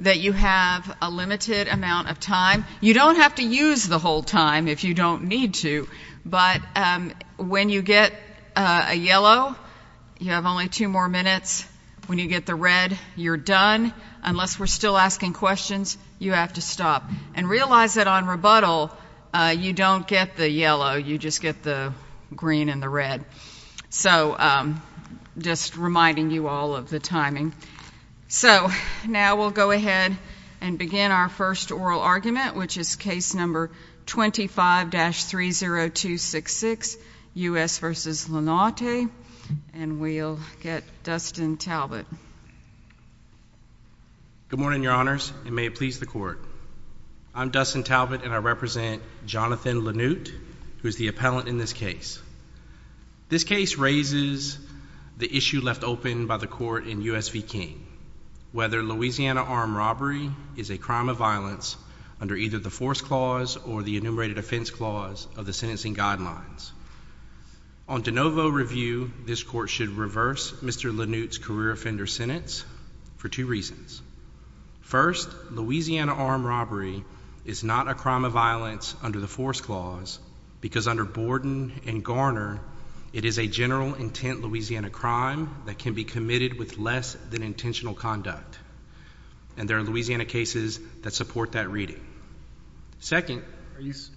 that you have a limited amount of time. You don't have to use the whole time if you don't need to, but when you get a yellow you have only two more minutes. When you get the red you're done. Unless we're still asking questions, you have to stop. And realize that on rebuttal you don't get the yellow, you just get the green and the red. So just reminding you all of the timing. So now we'll go ahead and begin our first oral argument, which is case number 25-30266, U.S. v. Lanaute, and we'll get Dustin Talbott. Good morning, Your Honors, and may it please the court. I'm Dustin Talbott and I represent Jonathan Lanute, who is the appellant in this case. This case raises the issue left open by the court in U.S. v. King, whether Louisiana armed robbery is a crime of violence under either the force clause or the enumerated offense clause of the sentencing guidelines. On de novo review, this court should reverse Mr. Lanute's career offender sentence for two reasons. First, Louisiana armed robbery is not a crime of violence under the force clause because under Borden and Garner, it is a general intent Louisiana crime that can be committed with less than intentional conduct. And there are Louisiana cases that support that reading. Second,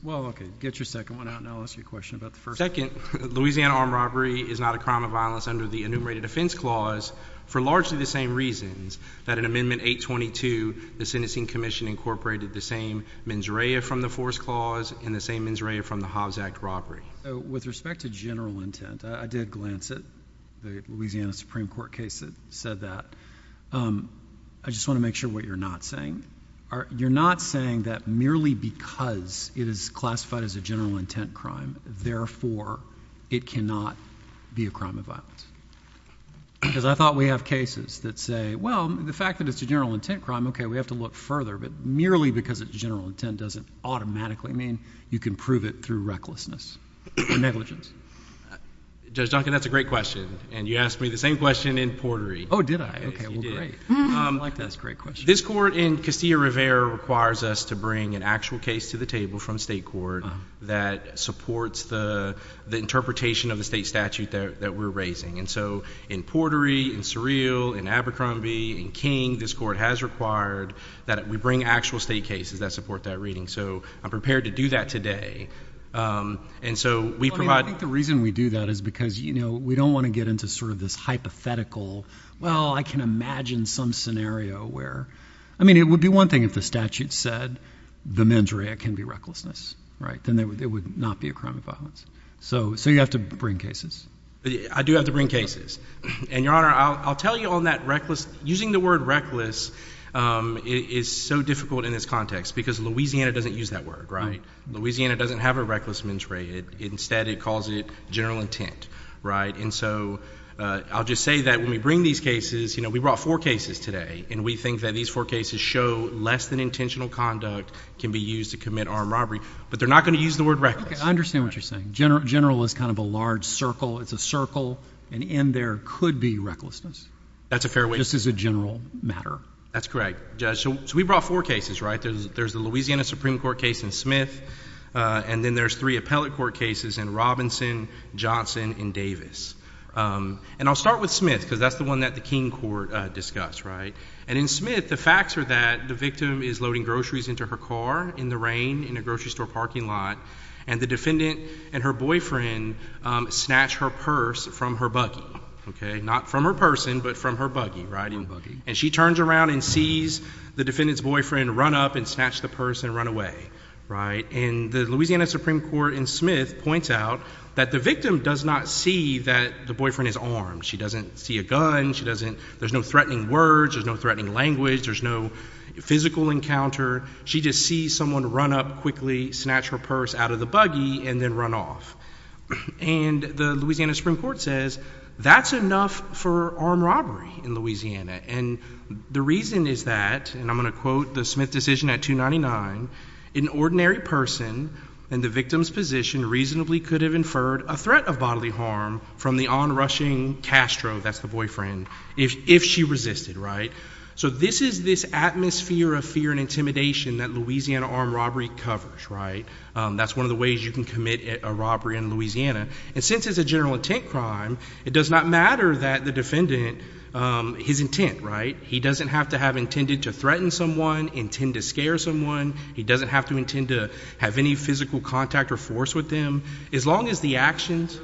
well okay, get your second one out and I'll ask you a question about the first one. Second, Louisiana armed robbery is not a crime of violence under the enumerated offense clause for largely the same reasons that in Amendment 822, the Sentencing Commission incorporated the same mens rea from the force clause and the same mens rea from the Hobbs Act robbery. With respect to general intent, I did glance at the Louisiana Supreme Court case that said that. I just want to make sure what you're not saying are you're not saying that merely because it is classified as a general intent crime, therefore it cannot be a crime of violence. Because I thought we have cases that say, well the fact that it's a general intent crime, okay we have to look further. But merely because it's general intent doesn't automatically mean you can prove it through recklessness or negligence. Judge Duncan, that's a great question. And you asked me the same question in Portery. Oh did I? This court in Castillo-Rivera requires us to bring an actual case to the table from state court that supports the the interpretation of the state statute that we're raising. And so in Portery, in that we bring actual state cases that support that reading. So I'm prepared to do that today. And so we provide... I think the reason we do that is because you know we don't want to get into sort of this hypothetical, well I can imagine some scenario where... I mean it would be one thing if the statute said the mens rea can be recklessness, right? Then it would not be a crime of violence. So you have to bring cases? I do have to bring cases. And Your Honor, I'll tell you on that, using the word reckless is so difficult in this context because Louisiana doesn't use that word, right? Louisiana doesn't have a reckless mens rea. Instead it calls it general intent, right? And so I'll just say that when we bring these cases, you know, we brought four cases today and we think that these four cases show less than intentional conduct can be used to commit armed robbery. But they're not going to use the word reckless. I understand what you're saying. General is kind of a large circle. It's a circle and in there could be recklessness. That's a fair way. This is a general matter. That's correct, Judge. So we brought four cases, right? There's the Louisiana Supreme Court case in Smith and then there's three appellate court cases in Robinson, Johnson, and Davis. And I'll start with Smith because that's the one that the King Court discussed, right? And in Smith, the facts are that the victim is loading groceries into her car in the rain in a grocery store parking lot and the defendant and her boyfriend snatch her purse from her buggy, okay? Not from her person but from her buggy, right? And she turns around and sees the defendant's boyfriend run up and snatch the purse and run away, right? And the Louisiana Supreme Court in Smith points out that the victim does not see that the boyfriend is armed. She doesn't see a gun. She doesn't, there's no threatening words. There's no threatening language. There's no physical encounter. She just sees someone run up quickly, snatch her purse out of the buggy, and then run off. And the Louisiana Supreme Court says that's enough for armed robbery in Louisiana. And the reason is that, and I'm going to quote the Smith decision at 299, an ordinary person in the victim's position reasonably could have inferred a threat of bodily harm from the on-rushing Castro, that's the boyfriend, if she resisted, right? So this is this atmosphere of fear and intimidation that Louisiana armed robbery covers, right? That's one of the ways you can commit a robbery in Louisiana. And since it's a general intent crime, it does not matter that the defendant, his intent, right? He doesn't have to have intended to threaten someone, intend to scare someone. He doesn't have to intend to have any physical contact or force with them. As long as the actions...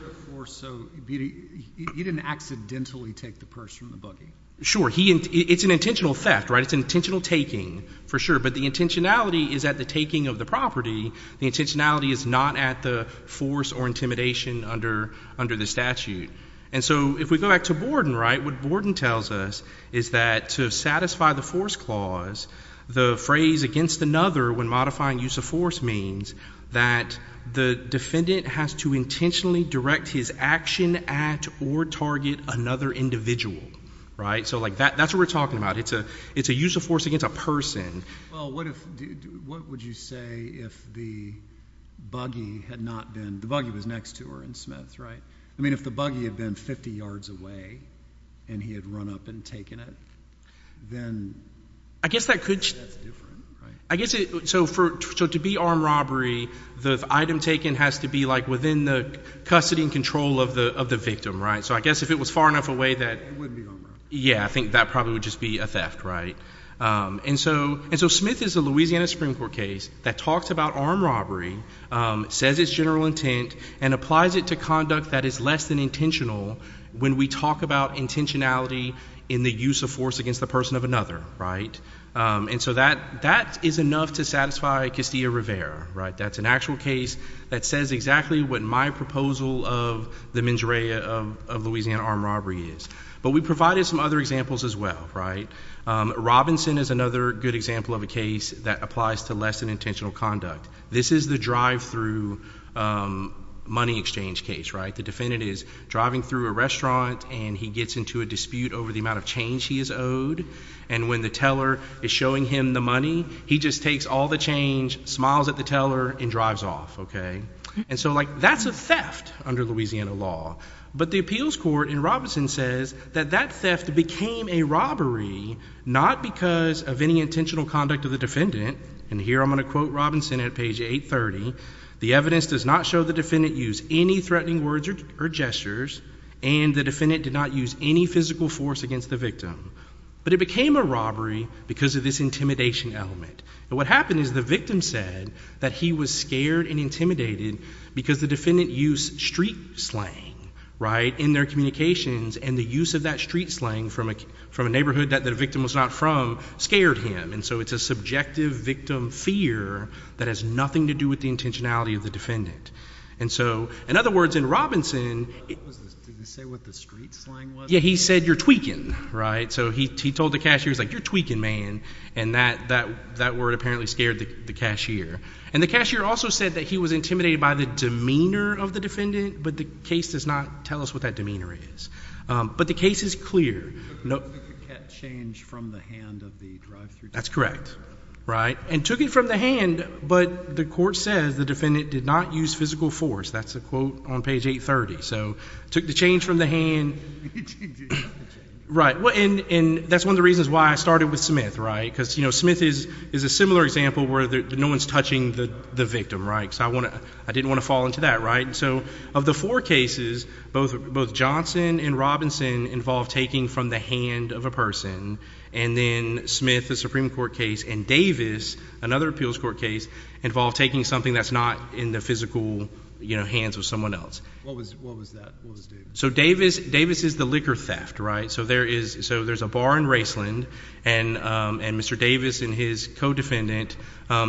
He didn't accidentally take the purse from the buggy. Sure, it's an intentional theft, right? It's an intentional taking, for sure. But the intentionality is at the taking of the property. The intentionality is not at the force or intimidation under the statute. And so if we go back to Borden, right? What Borden tells us is that to satisfy the force clause, the phrase against another when modifying use of force means that the defendant has to intentionally direct his action at or target another individual, right? So like that's what we're talking about. It's a use of force against a person. Well, what would you say if the buggy had not been... the buggy was next to her in Smith, right? I mean, if the buggy had been 50 yards away and he had run up and taken it, then... I guess that could... I guess it... So to be armed robbery, the item taken has to be like within the custody and control of the victim, right? So I guess if it was far enough away that... Yeah, I think that probably would just be a And so Smith is a Louisiana Supreme Court case that talks about armed robbery, says its general intent, and applies it to conduct that is less than intentional when we talk about intentionality in the use of force against the person of another, right? And so that is enough to satisfy Castillo-Rivera, right? That's an actual case that says exactly what my proposal of the mens rea of Louisiana armed robbery is. But we provided some other examples as well, right? Robinson is another good example of a case that applies to less than intentional conduct. This is the drive-through money exchange case, right? The defendant is driving through a restaurant and he gets into a dispute over the amount of change he is owed, and when the teller is showing him the money, he just takes all the change, smiles at the teller, and drives off, okay? And so, like, that's a theft under Louisiana law. But the appeals court in Robinson says that that theft became a robbery not because of any intentional conduct of the defendant, and here I'm going to quote Robinson at page 830, the evidence does not show the defendant used any threatening words or gestures, and the defendant did not use any physical force against the victim. But it became a robbery because of this intimidation element. And what happened is the victim said that he was scared and intimidated because the defendant used street slang, right, in their communications, and the use of that street slang from a neighborhood that the victim was not from scared him, and so it's a subjective victim fear that has nothing to do with the intentionality of the defendant. And so, in other words, in Robinson, he said, you're tweaking, right? So he told the cashier, he's like, you're tweaking, man, and that word apparently scared the cashier. And the cashier also said that he was intimidated by the demeanor of the case. But the case is clear, that's correct, right? And took it from the hand, but the court says the defendant did not use physical force. That's a quote on page 830. So took the change from the hand, right? And that's one of the reasons why I started with Smith, right? Because, you know, Smith is a similar example where no one's touching the victim, right? So I didn't want to fall into that, right? So of the four cases, both Johnson and Robinson involved taking from the hand of a person, and then Smith, the Supreme Court case, and Davis, another appeals court case, involved taking something that's not in the physical, you know, hands of someone else. So Davis is the liquor theft, right? So there's a bar in Raceland, and Mr. Davis and his co-defendant,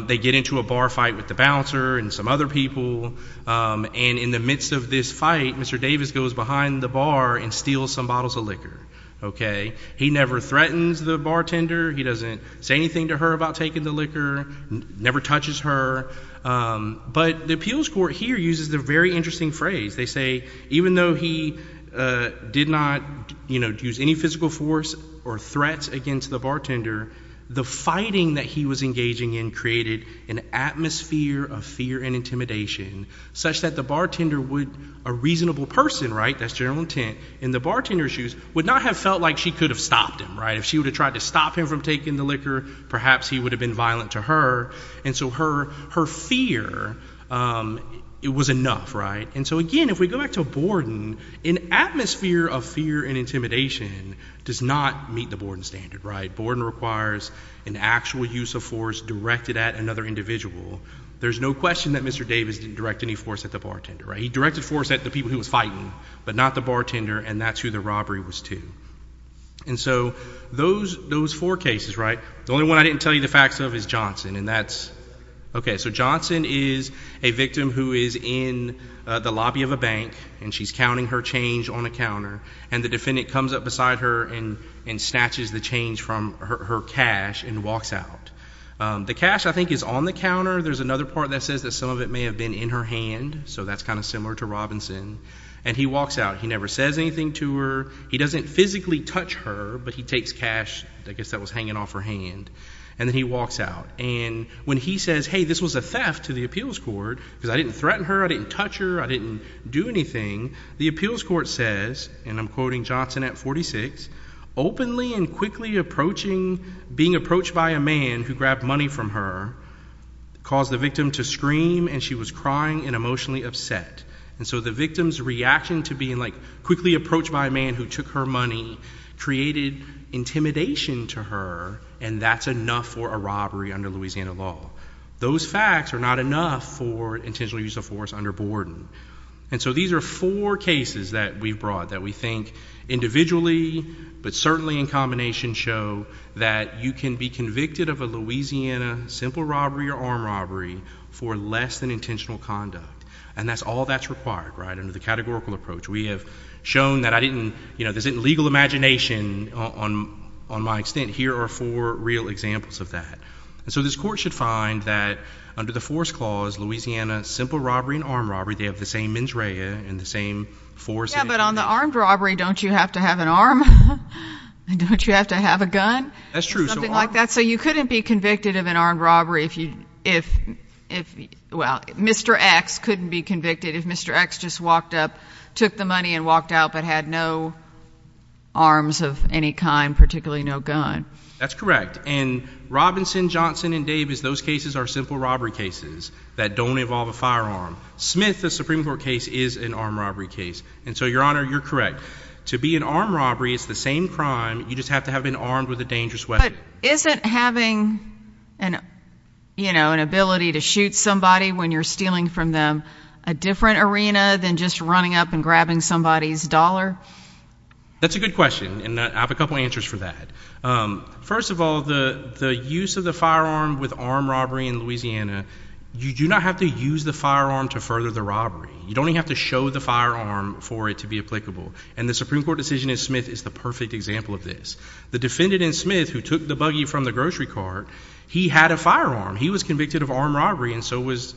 they get into a bar fight with the bouncer and some other people, and in the midst of this fight, Mr. Davis goes behind the bar and steals some bottles of liquor, okay? He never threatens the bartender, he doesn't say anything to her about taking the liquor, never touches her. But the appeals court here uses the very interesting phrase. They say even though he did not, you know, use any physical force or threats against the bartender, the fighting that he was engaging in created an atmosphere of fear and intimidation such that the bartender would, a reasonable person, right, that's general intent, in the bartender's shoes, would not have felt like she could have stopped him, right? If she would have tried to stop him from taking the liquor, perhaps he would have been violent to her, and so her fear, it was enough, right? And so again, if we go back to Borden, an atmosphere of fear and intimidation does not meet the Borden standard, right? Borden requires an actual use of force directed at another individual. There's no question that Mr. Davis didn't direct any force at the bartender, right? He directed force at the people who was fighting, but not the bartender, and that's who the robbery was to. And so those four cases, right, the only one I didn't tell you the facts of is Johnson, and that's, okay, so Johnson is a victim who is in the lobby of a bank, and she's counting her change on a counter, and the defendant comes up beside her and snatches the change from her cash and walks out. The cash, I think, is on the counter. There's another part that says that some of it may have been in her hand, so that's kind of similar to Robinson, and he walks out. He never says anything to her. He doesn't physically touch her, but he takes cash, I guess that was hanging off her hand, and then he walks out, and when he says, hey, this was a theft to the appeals court because I didn't threaten her, I didn't touch her, I didn't do anything. The appeals court says, and I'm quoting Johnson at 46, openly and quickly approaching, being approached by a man who grabbed money from her caused the victim to scream, and she was crying and emotionally upset, and so the victim's reaction to being, like, quickly approached by a man who took her money created intimidation to her, and that's enough for a robbery under Louisiana law. Those facts are not enough for intentional use of force under Warden, and so these are four cases that we've brought that we think, individually, but certainly in combination, show that you can be convicted of a Louisiana simple robbery or armed robbery for less than intentional conduct, and that's all that's required, right, under the categorical approach. We have shown that I didn't, you know, there's a legal imagination on my extent. Here are four real examples of that, and so this court should find that under the Force Clause, Louisiana simple robbery and armed robbery, they have the same mens rea and the same force. Yeah, but on the armed robbery, don't you have to have an arm? Don't you have to have a gun? That's true. Something like that, so you couldn't be convicted of an armed robbery if you, if, well, Mr. X couldn't be convicted if Mr. X just walked up, took the money, and walked out, but had no arms of any kind, particularly no gun. That's correct, and Robinson, Johnson, and Davis, those cases are simple robbery cases that don't involve a firearm. Smith, the Supreme Court case, is an armed robbery case, and so, Your Honor, you're correct. To be an armed robbery, it's the same crime. You just have to have been armed with a dangerous weapon. But isn't having an, you know, an ability to shoot somebody when you're stealing from them a different arena than just running up and grabbing somebody's dollar? That's a good question, and I have a couple answers for that. First of all, the use of the firearm with armed robbery in Louisiana, you do not have to use the firearm to further the robbery. You don't have to show the firearm for it to be applicable, and the Supreme Court decision in Smith is the perfect example of this. The defendant in Smith, who took the buggy from the grocery cart, he had a firearm. He was convicted of armed robbery, and so was,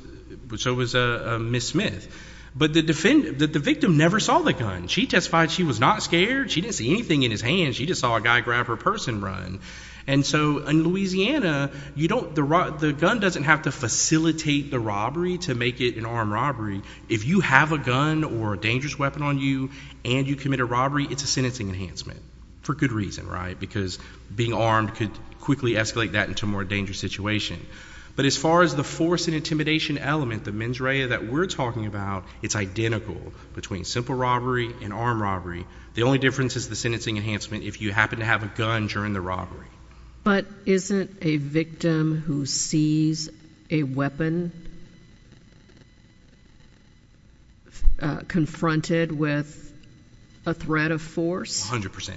so was Miss Smith, but the defendant, the victim never saw the gun. She testified she was not scared. She didn't see anything in his hands. She just saw a guy grab her purse and run, and so in Louisiana, you don't, the gun doesn't have to facilitate the robbery to make it an armed robbery. If you have a gun or a dangerous weapon on you and you commit a robbery, it's a sentencing enhancement, for good reason, right? Because being armed could quickly escalate that into a more dangerous situation. But as far as the force and intimidation element, the mens rea that we're talking about, it's identical between simple robbery and armed robbery. The only difference is the sentencing enhancement if you happen to have a gun during the robbery. But isn't a victim who sees a weapon confronted with a threat of force? 100%.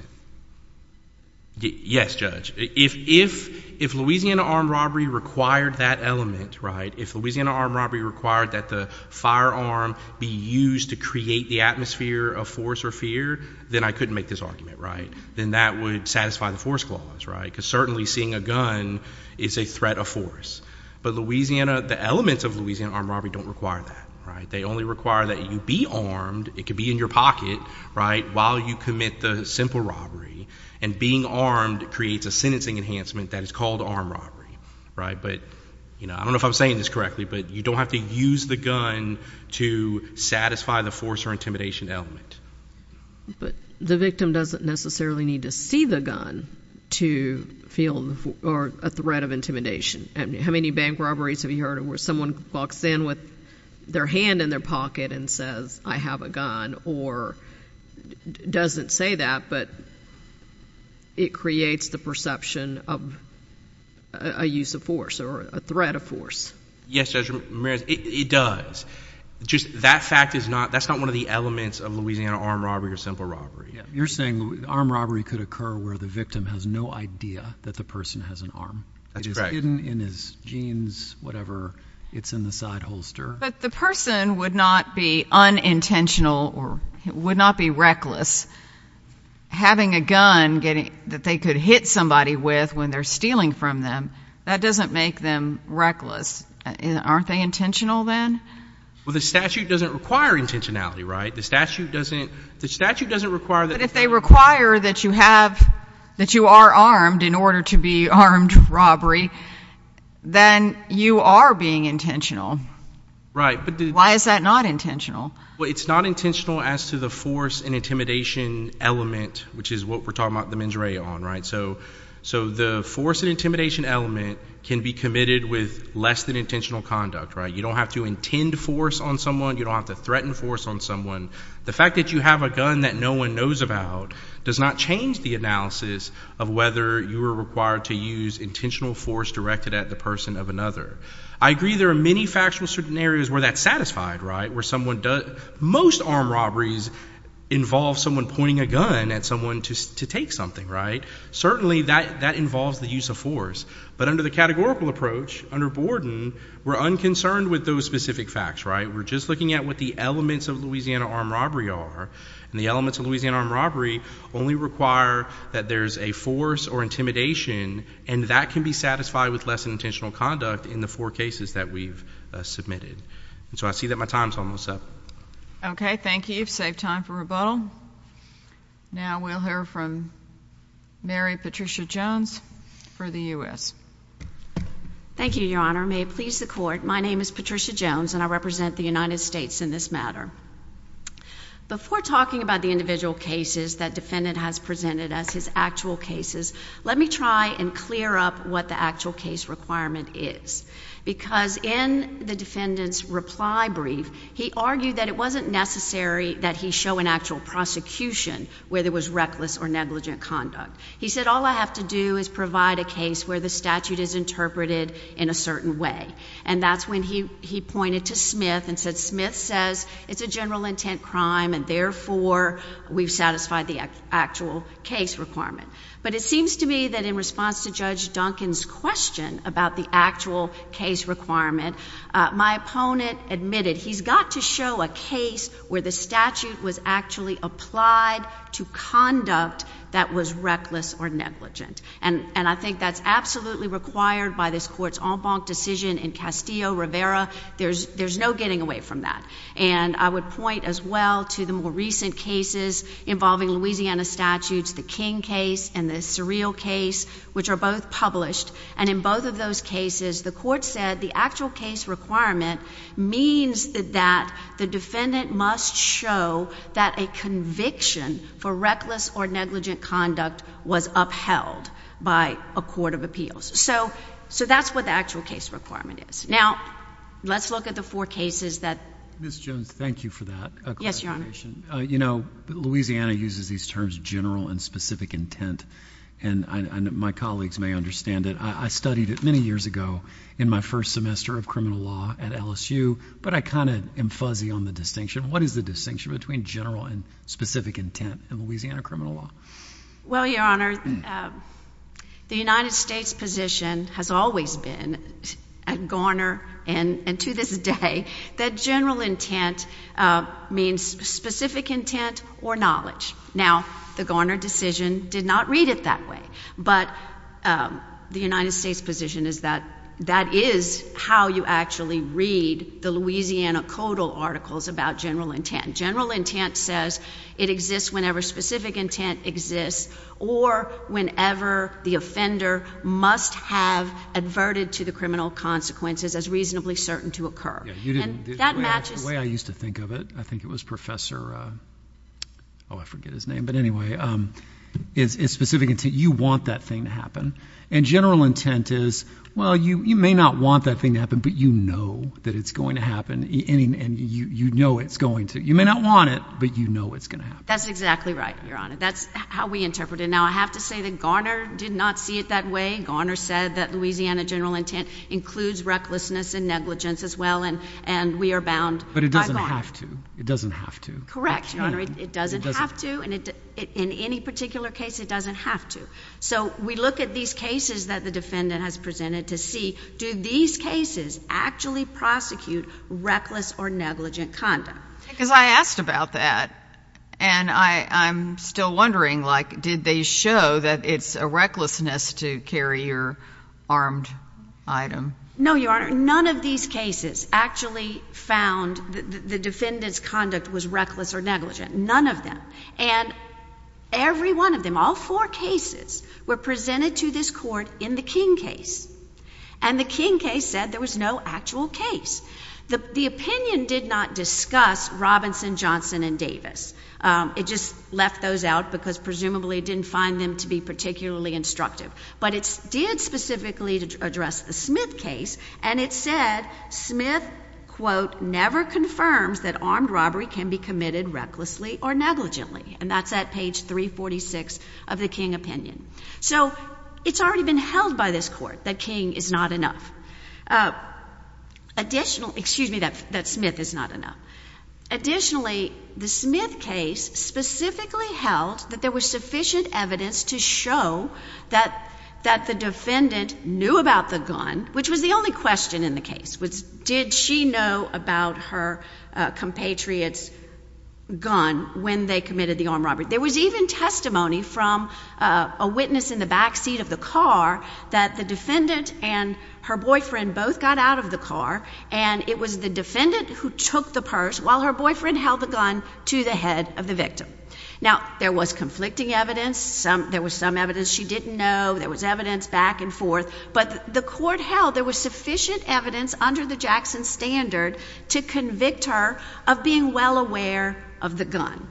Yes, Judge. If Louisiana armed robbery required that element, right? If Louisiana armed robbery required that the firearm be used to create the atmosphere of force or fear, then I couldn't make this argument, right? Then that would satisfy the force clause, right? Because certainly seeing a gun is a threat of force. But Louisiana, the elements of Louisiana armed robbery don't require that, right? They only require that you be armed. It could be in your pocket, right, while you commit the simple robbery. And being armed creates a sentencing enhancement that is called armed robbery, right? But, you know, I don't know if I'm saying this correctly, but you don't have to use the gun to satisfy the force or intimidation element. But the victim doesn't necessarily need to see the gun to feel a threat of intimidation. How many bank robberies have you heard of where someone walks in with their hand in their pocket and says, I have a gun or doesn't say that, but it creates the perception of a use of force or a threat of force? Yes, Judge Ramirez, it does. Just that fact is not, that's not one of the elements of Louisiana armed robbery or simple robbery. You're saying armed robbery could occur where the victim has no idea that the person has an arm. That's right. It's hidden in his jeans, whatever, it's in the side holster. But the person would not be unintentional or would not be reckless. Having a gun that they could hit somebody with when they're stealing from them, that doesn't make them reckless. Aren't they intentional then? Well, the statute doesn't require intentionality, right? The statute doesn't require that. But if they require that you have, that you are armed in order to be armed robbery, then you are being intentional. Right. But why is that not intentional? Well, it's not intentional as to the force and intimidation element, which is what we're talking about the mens rea on, right? So so the force and intimidation element can be committed with less than intentional conduct, right? You don't have to intend force on someone, you don't have to threaten force on someone. The fact that you have a gun that no one knows about does not change the analysis of whether you are required to use intentional force directed at the person of another. I agree there are many factual certain areas where that's satisfied, right? Where someone does, most armed robberies involve someone pointing a gun at someone to take something, right? Certainly that that involves the use of force. But under the categorical approach, under Borden, we're unconcerned with those specific facts, right? We're just looking at what the elements of Louisiana armed robbery are, and the elements of Louisiana armed robbery only require that there's a force or intimidation, and that can be satisfied with less than intentional conduct in the four cases that we've submitted. And so I see that my time's almost up. Okay, thank you. Save time for rebuttal. Now we'll hear from Mary Patricia Jones for the U. S. Thank you, Your Honor. May it please the court. My name is Patricia in this matter before talking about the individual cases that defendant has presented as his actual cases. Let me try and clear up what the actual case requirement is, because in the defendant's reply brief, he argued that it wasn't necessary that he show an actual prosecution where there was reckless or negligent conduct. He said, All I have to do is provide a case where the statute is interpreted in a certain way. And that's when he he says it's a general intent crime, and therefore we've satisfied the actual case requirement. But it seems to me that in response to Judge Duncan's question about the actual case requirement, my opponent admitted he's got to show a case where the statute was actually applied to conduct that was reckless or negligent. And I think that's absolutely required by this court's on bonk decision in Castillo Rivera. There's there's no getting away from that. And I would point as well to the more recent cases involving Louisiana statutes, the King case and the surreal case, which are both published. And in both of those cases, the court said the actual case requirement means that that the defendant must show that a conviction for reckless or negligent conduct was upheld by a court of appeals. So so that's what the actual case requirement is. Now, let's look at the four cases that Miss Jones. Thank you for that. Yes, Your Honor. You know, Louisiana uses these terms general and specific intent, and my colleagues may understand it. I studied it many years ago in my first semester of criminal law at L. S. U. But I kind of am fuzzy on the distinction. What is the distinction between general and specific intent in Louisiana criminal law? Well, Your Honor, the United States position has always been at Garner and to this day that general intent means specific intent or knowledge. Now, the Garner decision did not read it that way. But the United States position is that that is how you actually read the Louisiana Codal articles about general intent. General whenever the offender must have adverted to the criminal consequences as reasonably certain to occur. You didn't that matches the way I used to think of it. I think it was Professor. Oh, I forget his name. But anyway, it's specific until you want that thing to happen. And general intent is well, you may not want that thing to happen, but you know that it's going to happen, and you know it's going to. You may not want it, but you know it's gonna happen. That's exactly right. You're on it. That's how we interpret it. Now, I have to say that Garner did not see it that way. Garner said that Louisiana general intent includes recklessness and negligence as well. And and we are bound, but it doesn't have to. It doesn't have to correct. It doesn't have to. And in any particular case, it doesn't have to. So we look at these cases that the defendant has presented to see. Do these cases actually prosecute reckless or negligent conduct? Because I asked about that, and I I'm still wondering, like, did they show that it's a recklessness to carry your armed item? No, Your Honor. None of these cases actually found the defendant's conduct was reckless or negligent. None of them. And every one of them, all four cases were presented to this court in the King case, and the King case said there was no actual case. The opinion did not discuss Robinson, Johnson and Davis. It just left those out because presumably didn't find them to be particularly instructive. But it's did specifically to address the Smith case, and it said Smith quote never confirms that armed robbery can be committed recklessly or negligently. And that's at page 3 46 of the King opinion. So it's already been held by this court that King is not enough. Uh, additional excuse me, that that Smith is not enough. Additionally, the Smith case specifically held that there was sufficient evidence to show that that the defendant knew about the gun, which was the only question in the case was, did she know about her compatriots gone when they committed the armed robbery? There was even testimony from a witness in the backseat of the car that the defendant and her boyfriend both got out of the car, and it was the defendant who took the purse while her boyfriend held the gun to the head of the victim. Now there was conflicting evidence. There was some evidence she didn't know. There was evidence back and forth, but the court held there was sufficient evidence under the Jackson standard to convict her of being well aware of the gun.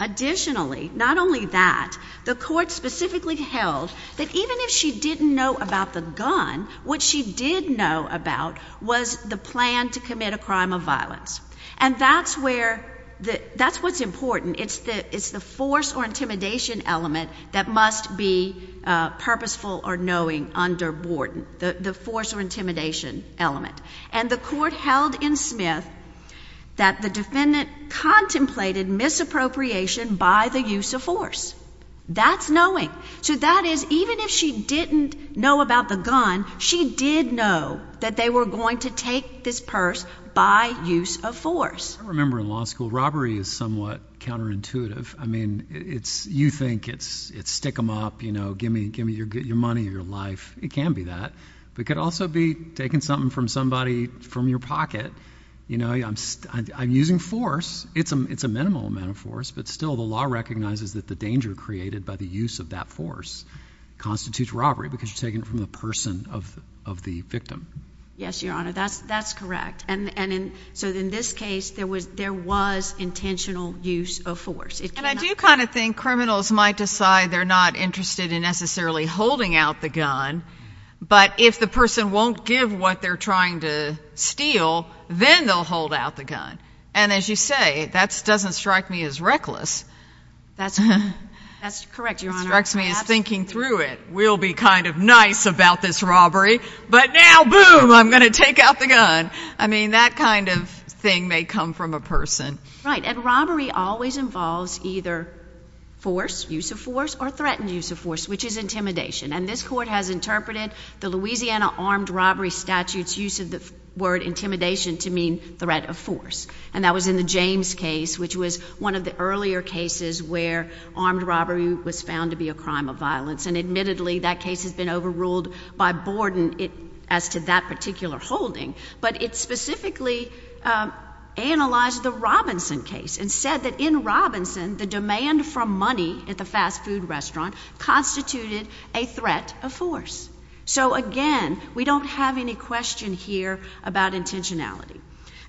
Additionally, not only that, the court specifically held that even if she didn't know about the gun, what she did know about was the plan to commit a crime of violence. And that's where the that's what's important. It's the it's the force or intimidation element that must be purposeful or knowing under Borden, the force or intimidation element. And the court held in Smith that the defendant contemplated misappropriation by the use of force. That's knowing. So that is, even if she didn't know about the gun, she did know that they were going to take this purse by use of force. I remember in law school robbery is somewhat counterintuitive. I mean, it's you think it's it's stick them up, you know, give me give me your get your money or your life. It can be that. We could also be taking something from somebody from your pocket. You know, I'm using force. It's a It's a minimal amount of force. But still, the law recognizes that the danger created by the use of that force constitutes robbery because you're taking it from the person of of the victim. Yes, Your Honor, that's that's correct. And so in this case, there was there was intentional use of force. And I do kind of think criminals might decide they're not interested in necessarily holding out the gun. But if the person won't give what they're trying to steal, then they'll hold out the gun. And as you say, that's doesn't strike me as reckless. That's that's correct. Your Honor. It strikes me as thinking through it will be kind of nice about this robbery. But now, boom, I'm gonna take out the gun. I mean, that kind of thing may come from a person, right? And robbery always involves either force use of force or threatened use of force, which is intimidation. And this court has interpreted the Louisiana armed robbery statutes use of the word intimidation to mean threat of force. And that was in the James case, which was one of the earlier cases where armed robbery was found to be a crime of violence. And admittedly, that case has been overruled by Borden it as to that particular holding. But it specifically, uh, analyzed the Robinson case and said that in Robinson, the demand from money at the fast food restaurant constituted a threat of force. So again, we don't have any question here about intentionality.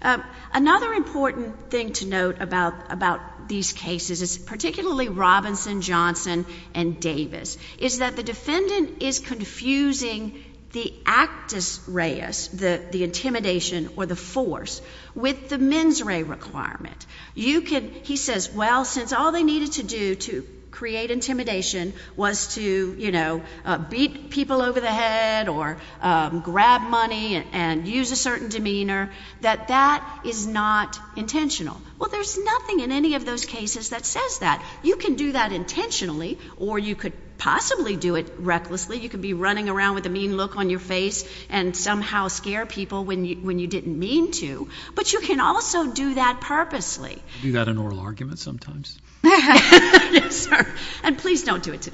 Uh, another important thing to note about about these cases is particularly Robinson, Johnson and Davis is that the defendant is confusing the actus reyes, the intimidation or the force with the force with the force with the actus rights. The actus reyes requirement you could, he says, well, since all they needed to do to create intimidation was to, you know, beat people over the head or, um, grab money and use a certain demeanor that that is not intentional. Well, there's nothing in any of those cases that says that you can do that intentionally, or you could possibly do it recklessly. You could be running around with the mean look on your face and somehow scare people when you when you didn't mean to. But you can also do that purposely. Do you got an oral argument sometimes? Yes, sir. And please don't do it.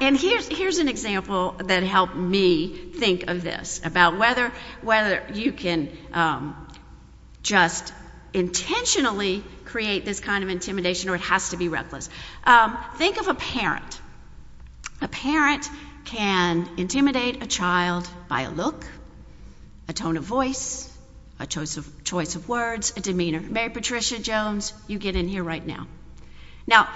And here's an example that helped me think of this about whether whether you can, um, just intentionally create this kind of intimidation or it has to be think of a parent. A parent can intimidate a child by a look, a tone of voice, a choice of choice of words, a demeanor. Mary Patricia Jones, you get in here right now. Now,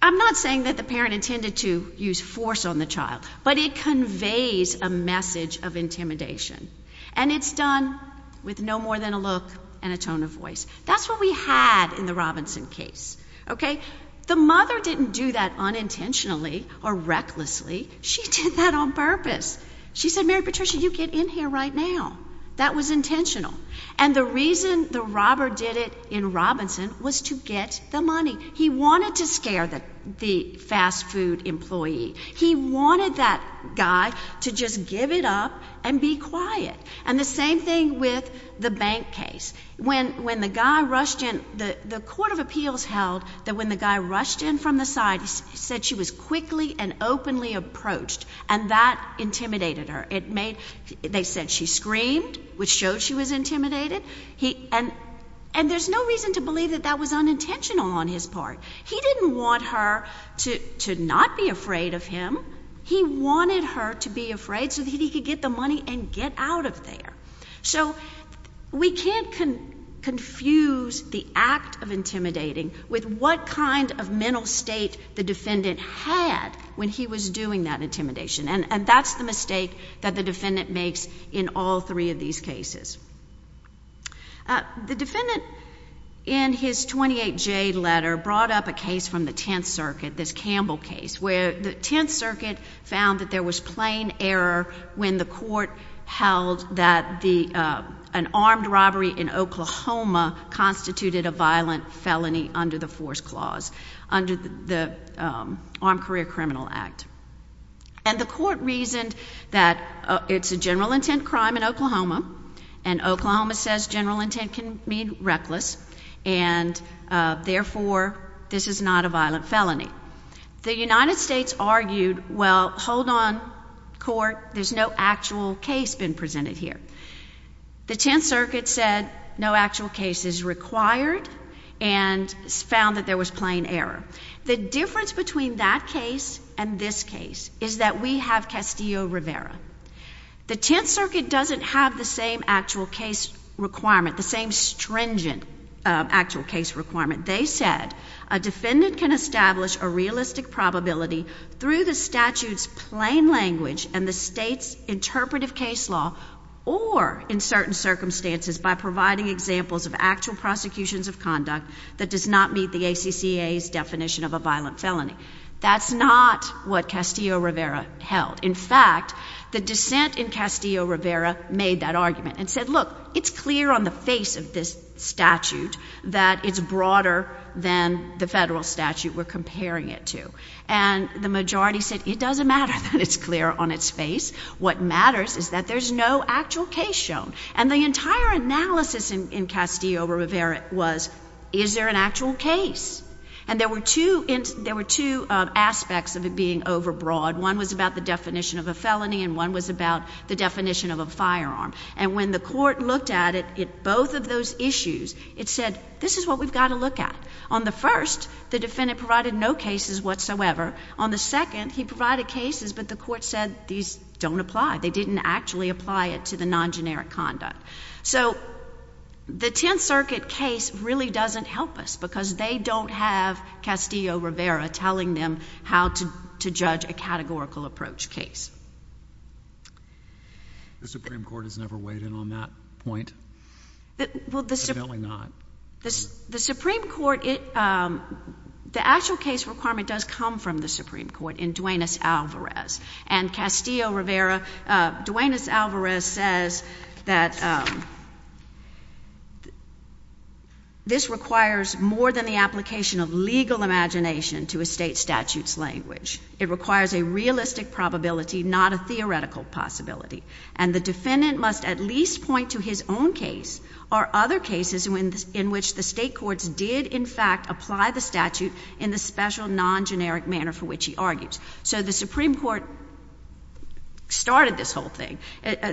I'm not saying that the parent intended to use force on the child, but it conveys a message of intimidation, and it's done with no more than a look and a tone of voice. That's what we had in the Robinson case. Okay? The mother didn't do that unintentionally or recklessly. She did that on purpose. She said, Mary Patricia, you get in here right now. That was intentional. And the reason the robber did it in Robinson was to get the money he wanted to scare that the fast food employee he wanted that guy to just give it up and be quiet. And the same thing with the bank case. When when the guy rushed in, the court of appeals held that when the guy rushed in from the side, he said she was quickly and openly approached, and that intimidated her. It made. They said she screamed, which showed she was intimidated. He and and there's no reason to believe that that was unintentional on his part. He didn't want her to not be afraid of him. He wanted her to be afraid so that he could get the money and get out of there. So we can't confuse the act of intimidating with what kind of mental state the defendant had when he was doing that intimidation. And that's the mistake that the defendant makes in all three of these cases. The defendant in his 28 J letter brought up a case from the 10th Circuit, this Campbell case, where the 10th Circuit found that there was plain error when the court held that the an armed robbery in Oklahoma constituted a violent felony under the force clause under the Armed Career Criminal Act. And the court reasoned that it's a general intent crime in Oklahoma, and Oklahoma says general intent can mean reckless, and therefore this is not a violent felony. The United States argued, Well, hold on court. There's no actual case been presented here. The 10th Circuit said no actual cases required and found that there was plain error. The difference between that case and this case is that we have Castillo Rivera. The 10th Circuit doesn't have the same actual case requirement, the same stringent actual case requirement. They said a defendant can establish a realistic probability through the statute's plain language and the state's interpretive case law or in certain circumstances by providing examples of actual prosecutions of conduct that does not meet the A. C. C. A. S. definition of a violent felony. That's not what Castillo Rivera held. In fact, the dissent in Castillo Rivera made that argument and said, Look, it's clear on the face of this statute that it's broader than the federal statute we're comparing it to. And the majority said it doesn't matter that it's clear on its face. What matters is that there's no actual case shown. And the entire analysis in Castillo Rivera was, Is there an actual case? And there were two aspects of it being overbroad. One was about the definition of a felony, and one was about the definition of a firearm. And when the court looked at it, at both of those issues, it said, This is what we've got to look at. On the first, the defendant provided no cases whatsoever. On the second, he provided cases, but the court said these don't apply. They didn't actually apply it to the non-generic conduct. So the Tenth Circuit case really doesn't help us because they don't have Castillo Rivera telling them how to judge a categorical approach case. The Supreme Court has never weighed in on that point. Well, the Supreme Court, the actual case requirement does come from the Supreme Court in Duenas-Alvarez. And Castillo Rivera, Duenas-Alvarez says that this requires more than the application of legal imagination to a state statute's language. It requires a realistic probability, not a theoretical possibility. And the defendant must at least point to his own case or other cases in which the state courts did, in fact, apply the statute in the special non-generic manner for which he argues. So the Supreme Court started this whole thing.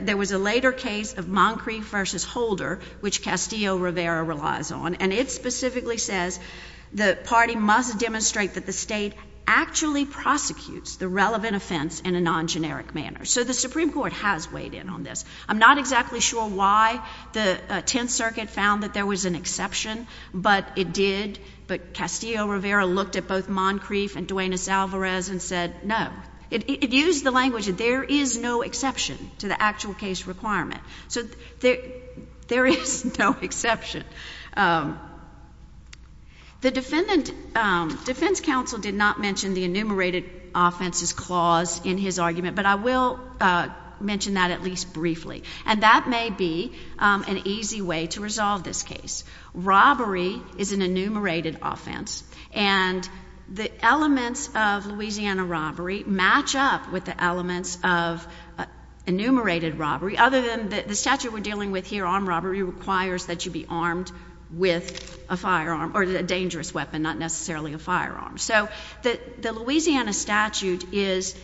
There was a later case of Moncrief v. Holder, which Castillo Rivera relies on, and it specifically says the party must demonstrate that the state actually prosecutes the relevant offense in a non-generic manner. So the Supreme Court has weighed in on this. I'm not exactly sure why the Tenth Circuit found that there was an exception, but it did. But Castillo Rivera looked at both Moncrief and Duenas-Alvarez and said, no. It used the language that there is no exception to the actual case requirement. So there is no exception. The defendant, defense counsel did not mention the enumerated offenses clause in his argument, but I will mention that at least briefly. And that may be an easy way to resolve this case. Robbery is an enumerated offense, and the elements of Louisiana robbery match up with the elements of enumerated robbery, other than the statute we're dealing with here, armed robbery, requires that you be armed with a firearm or a dangerous weapon, not necessarily a firearm. So the Louisiana statute is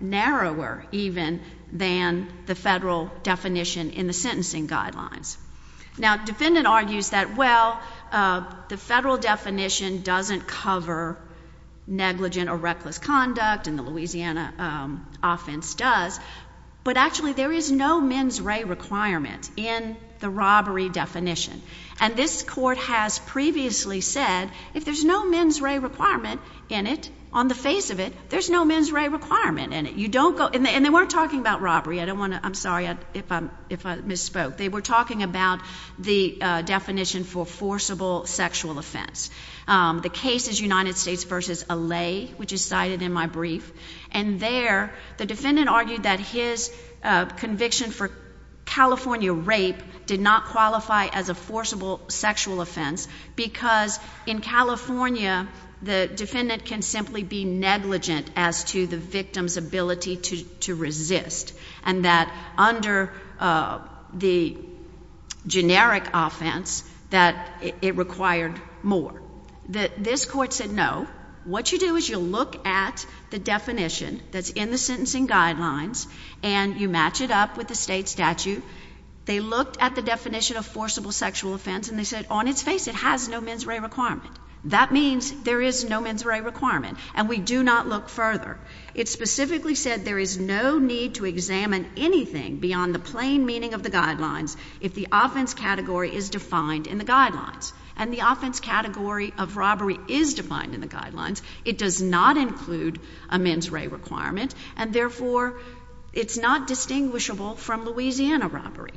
narrower even than the federal definition in the sentencing guidelines. Now, the defendant argues that, well, the federal definition doesn't cover negligent or reckless conduct, and the Louisiana offense does, but actually there is no mens re requirement in the robbery definition. And this court has previously said, if there's no mens re requirement in it, on the face of it, there's no mens re requirement in it. You don't go... And they weren't talking about robbery. I don't want to... I'm sorry if I misspoke. They were talking about the definition for forcible sexual offense. The case is United States versus Alley, which is cited in my brief. And there, the defendant argued that his conviction for California rape did not qualify as a forcible sexual offense because, in California, the defendant can simply be negligent as to the victim's ability to resist, and that under the generic offense, that it required more. This court said, no. What you do is you look at the definition that's in the sentencing guidelines, and you match it up with the state statute. They looked at the definition of forcible sexual offense, and they said, on its face, it has no mens re requirement. That means there is no mens re requirement, and we do not look further. It specifically said there is no need to examine anything beyond the plain meaning of the guidelines if the offense category is defined in the guidelines. And the offense category of robbery is defined in the guidelines. It does not include a mens re requirement, and therefore it's not distinguishable from Louisiana robbery.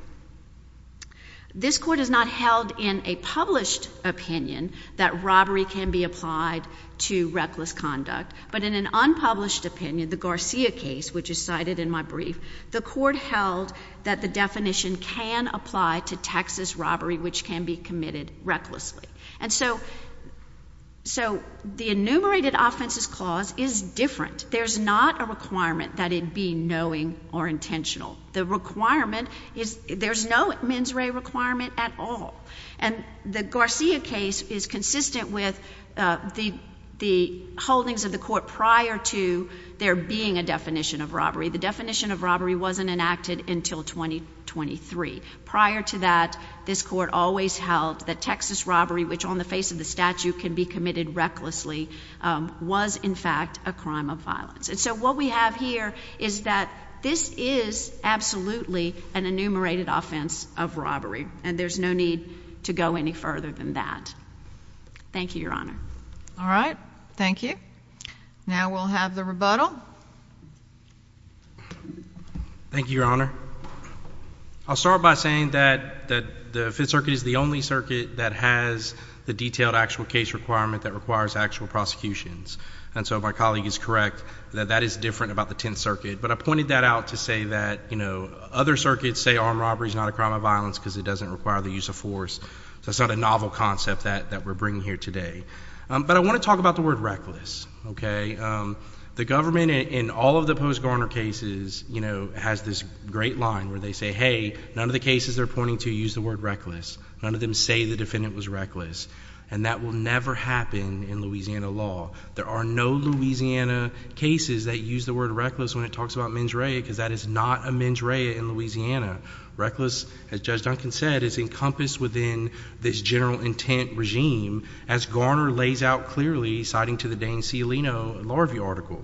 This court has not held in a published opinion that robbery can be applied to reckless conduct, but in an unpublished opinion, the Garcia case, which is cited in my brief, the court held that the definition can apply to Texas robbery, which can be committed recklessly. And so the enumerated offenses clause is different. There's not a requirement that it be knowing or intentional. The requirement is there's no mens re requirement at all, and the Garcia case is consistent with the holdings of the court prior to there being a definition of robbery. The definition of robbery wasn't enacted until 2023. Prior to that, this court always held that Texas robbery, which on the face of the statute can be committed recklessly, was in fact a crime of violence. And so what we have here is that this is absolutely an enumerated offense of robbery, and there's no need to go any further than that. Thank you, Your Honor. All right. Thank you. Now we'll have the rebuttal. Thank you, Your Honor. I'll start by saying that that the Fifth Circuit is the only circuit that has the detailed actual case requirement that requires actual prosecutions. And so my colleague is correct that that is different about the Tenth Circuit. But I pointed that out to say that, you know, other circuits say armed robbery is not a crime of violence because it doesn't require the use of force. So it's not a novel concept that that we're bringing here today. But I want to talk about the word reckless. Okay? Um, the government in all of the post-Garner cases, you know, has this great line where they say, Hey, none of the cases they're pointing to use the word reckless. None of them say the defendant was reckless, and that will never happen in Louisiana law. There are no Louisiana cases that use the word reckless when it talks about mens rea, because that is not a mens rea in Louisiana. Reckless, as Judge Duncan said, is encompassed within this general intent regime, as Garner lays out clearly, citing to the Dane Cialino Law Review article.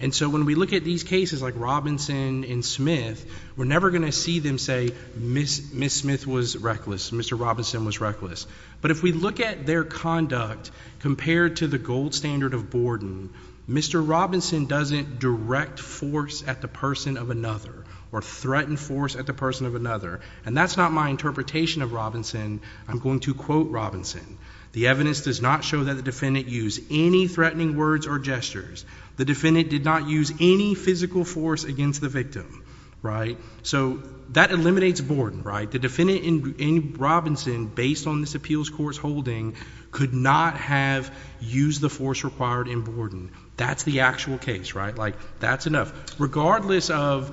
And so when we look at these cases like Robinson and Smith, we're never gonna see them say Miss Smith was reckless, Mr. Robinson was reckless. But if we look at their conduct compared to the gold standard of Borden, Mr. Robinson doesn't direct force at the person of another or threaten force at the person of another. And that's not my interpretation of Robinson. I'm going to quote Robinson. The evidence does not show that the defendant use any threatening words or gestures. The defendant did not use any physical force against the victim, right? So that eliminates Borden, right? The defendant in Robinson, based on this appeals court's holding, could not have used the force required in Borden. That's the actual case, right? Like, that's enough. Regardless of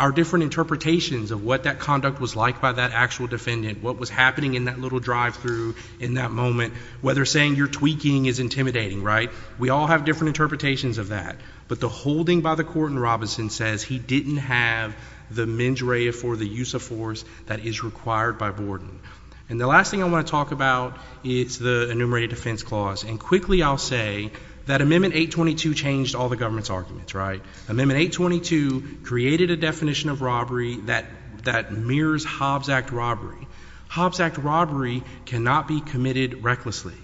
our different interpretations of what that conduct was like by that actual defendant, what was happening in that little drive-through in that moment, whether saying you're tweaking is intimidating, right? We all have different interpretations of that. But the holding by the court in Robinson says he didn't have the mens rea for the use of force that is required by Borden. And the last thing I want to talk about, it's the enumerated defense clause. And quickly I'll say that Amendment 822 changed all the government's arguments, right? Amendment 822 created a definition of robbery that mirrors Hobbs Act robbery. Hobbs Act robbery cannot be committed recklessly.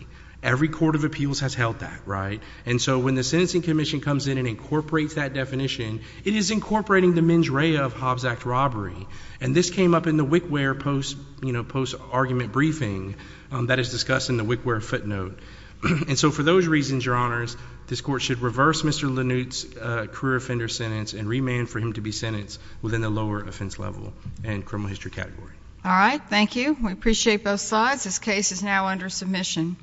Every court of appeals has held that, right? And so when the Sentencing Commission comes in and incorporates that definition, it is incorporating the mens rea of Hobbs Act robbery. And this came up in the WICWARE post-argument briefing that is discussed in the WICWARE footnote. And so for those reasons, Your Honors, this court should reverse Mr. Lanute's career offender sentence and remand for him to be sentenced within the lower offense level and criminal history category. All right. Thank you. We appreciate both sides. This case is now under submission.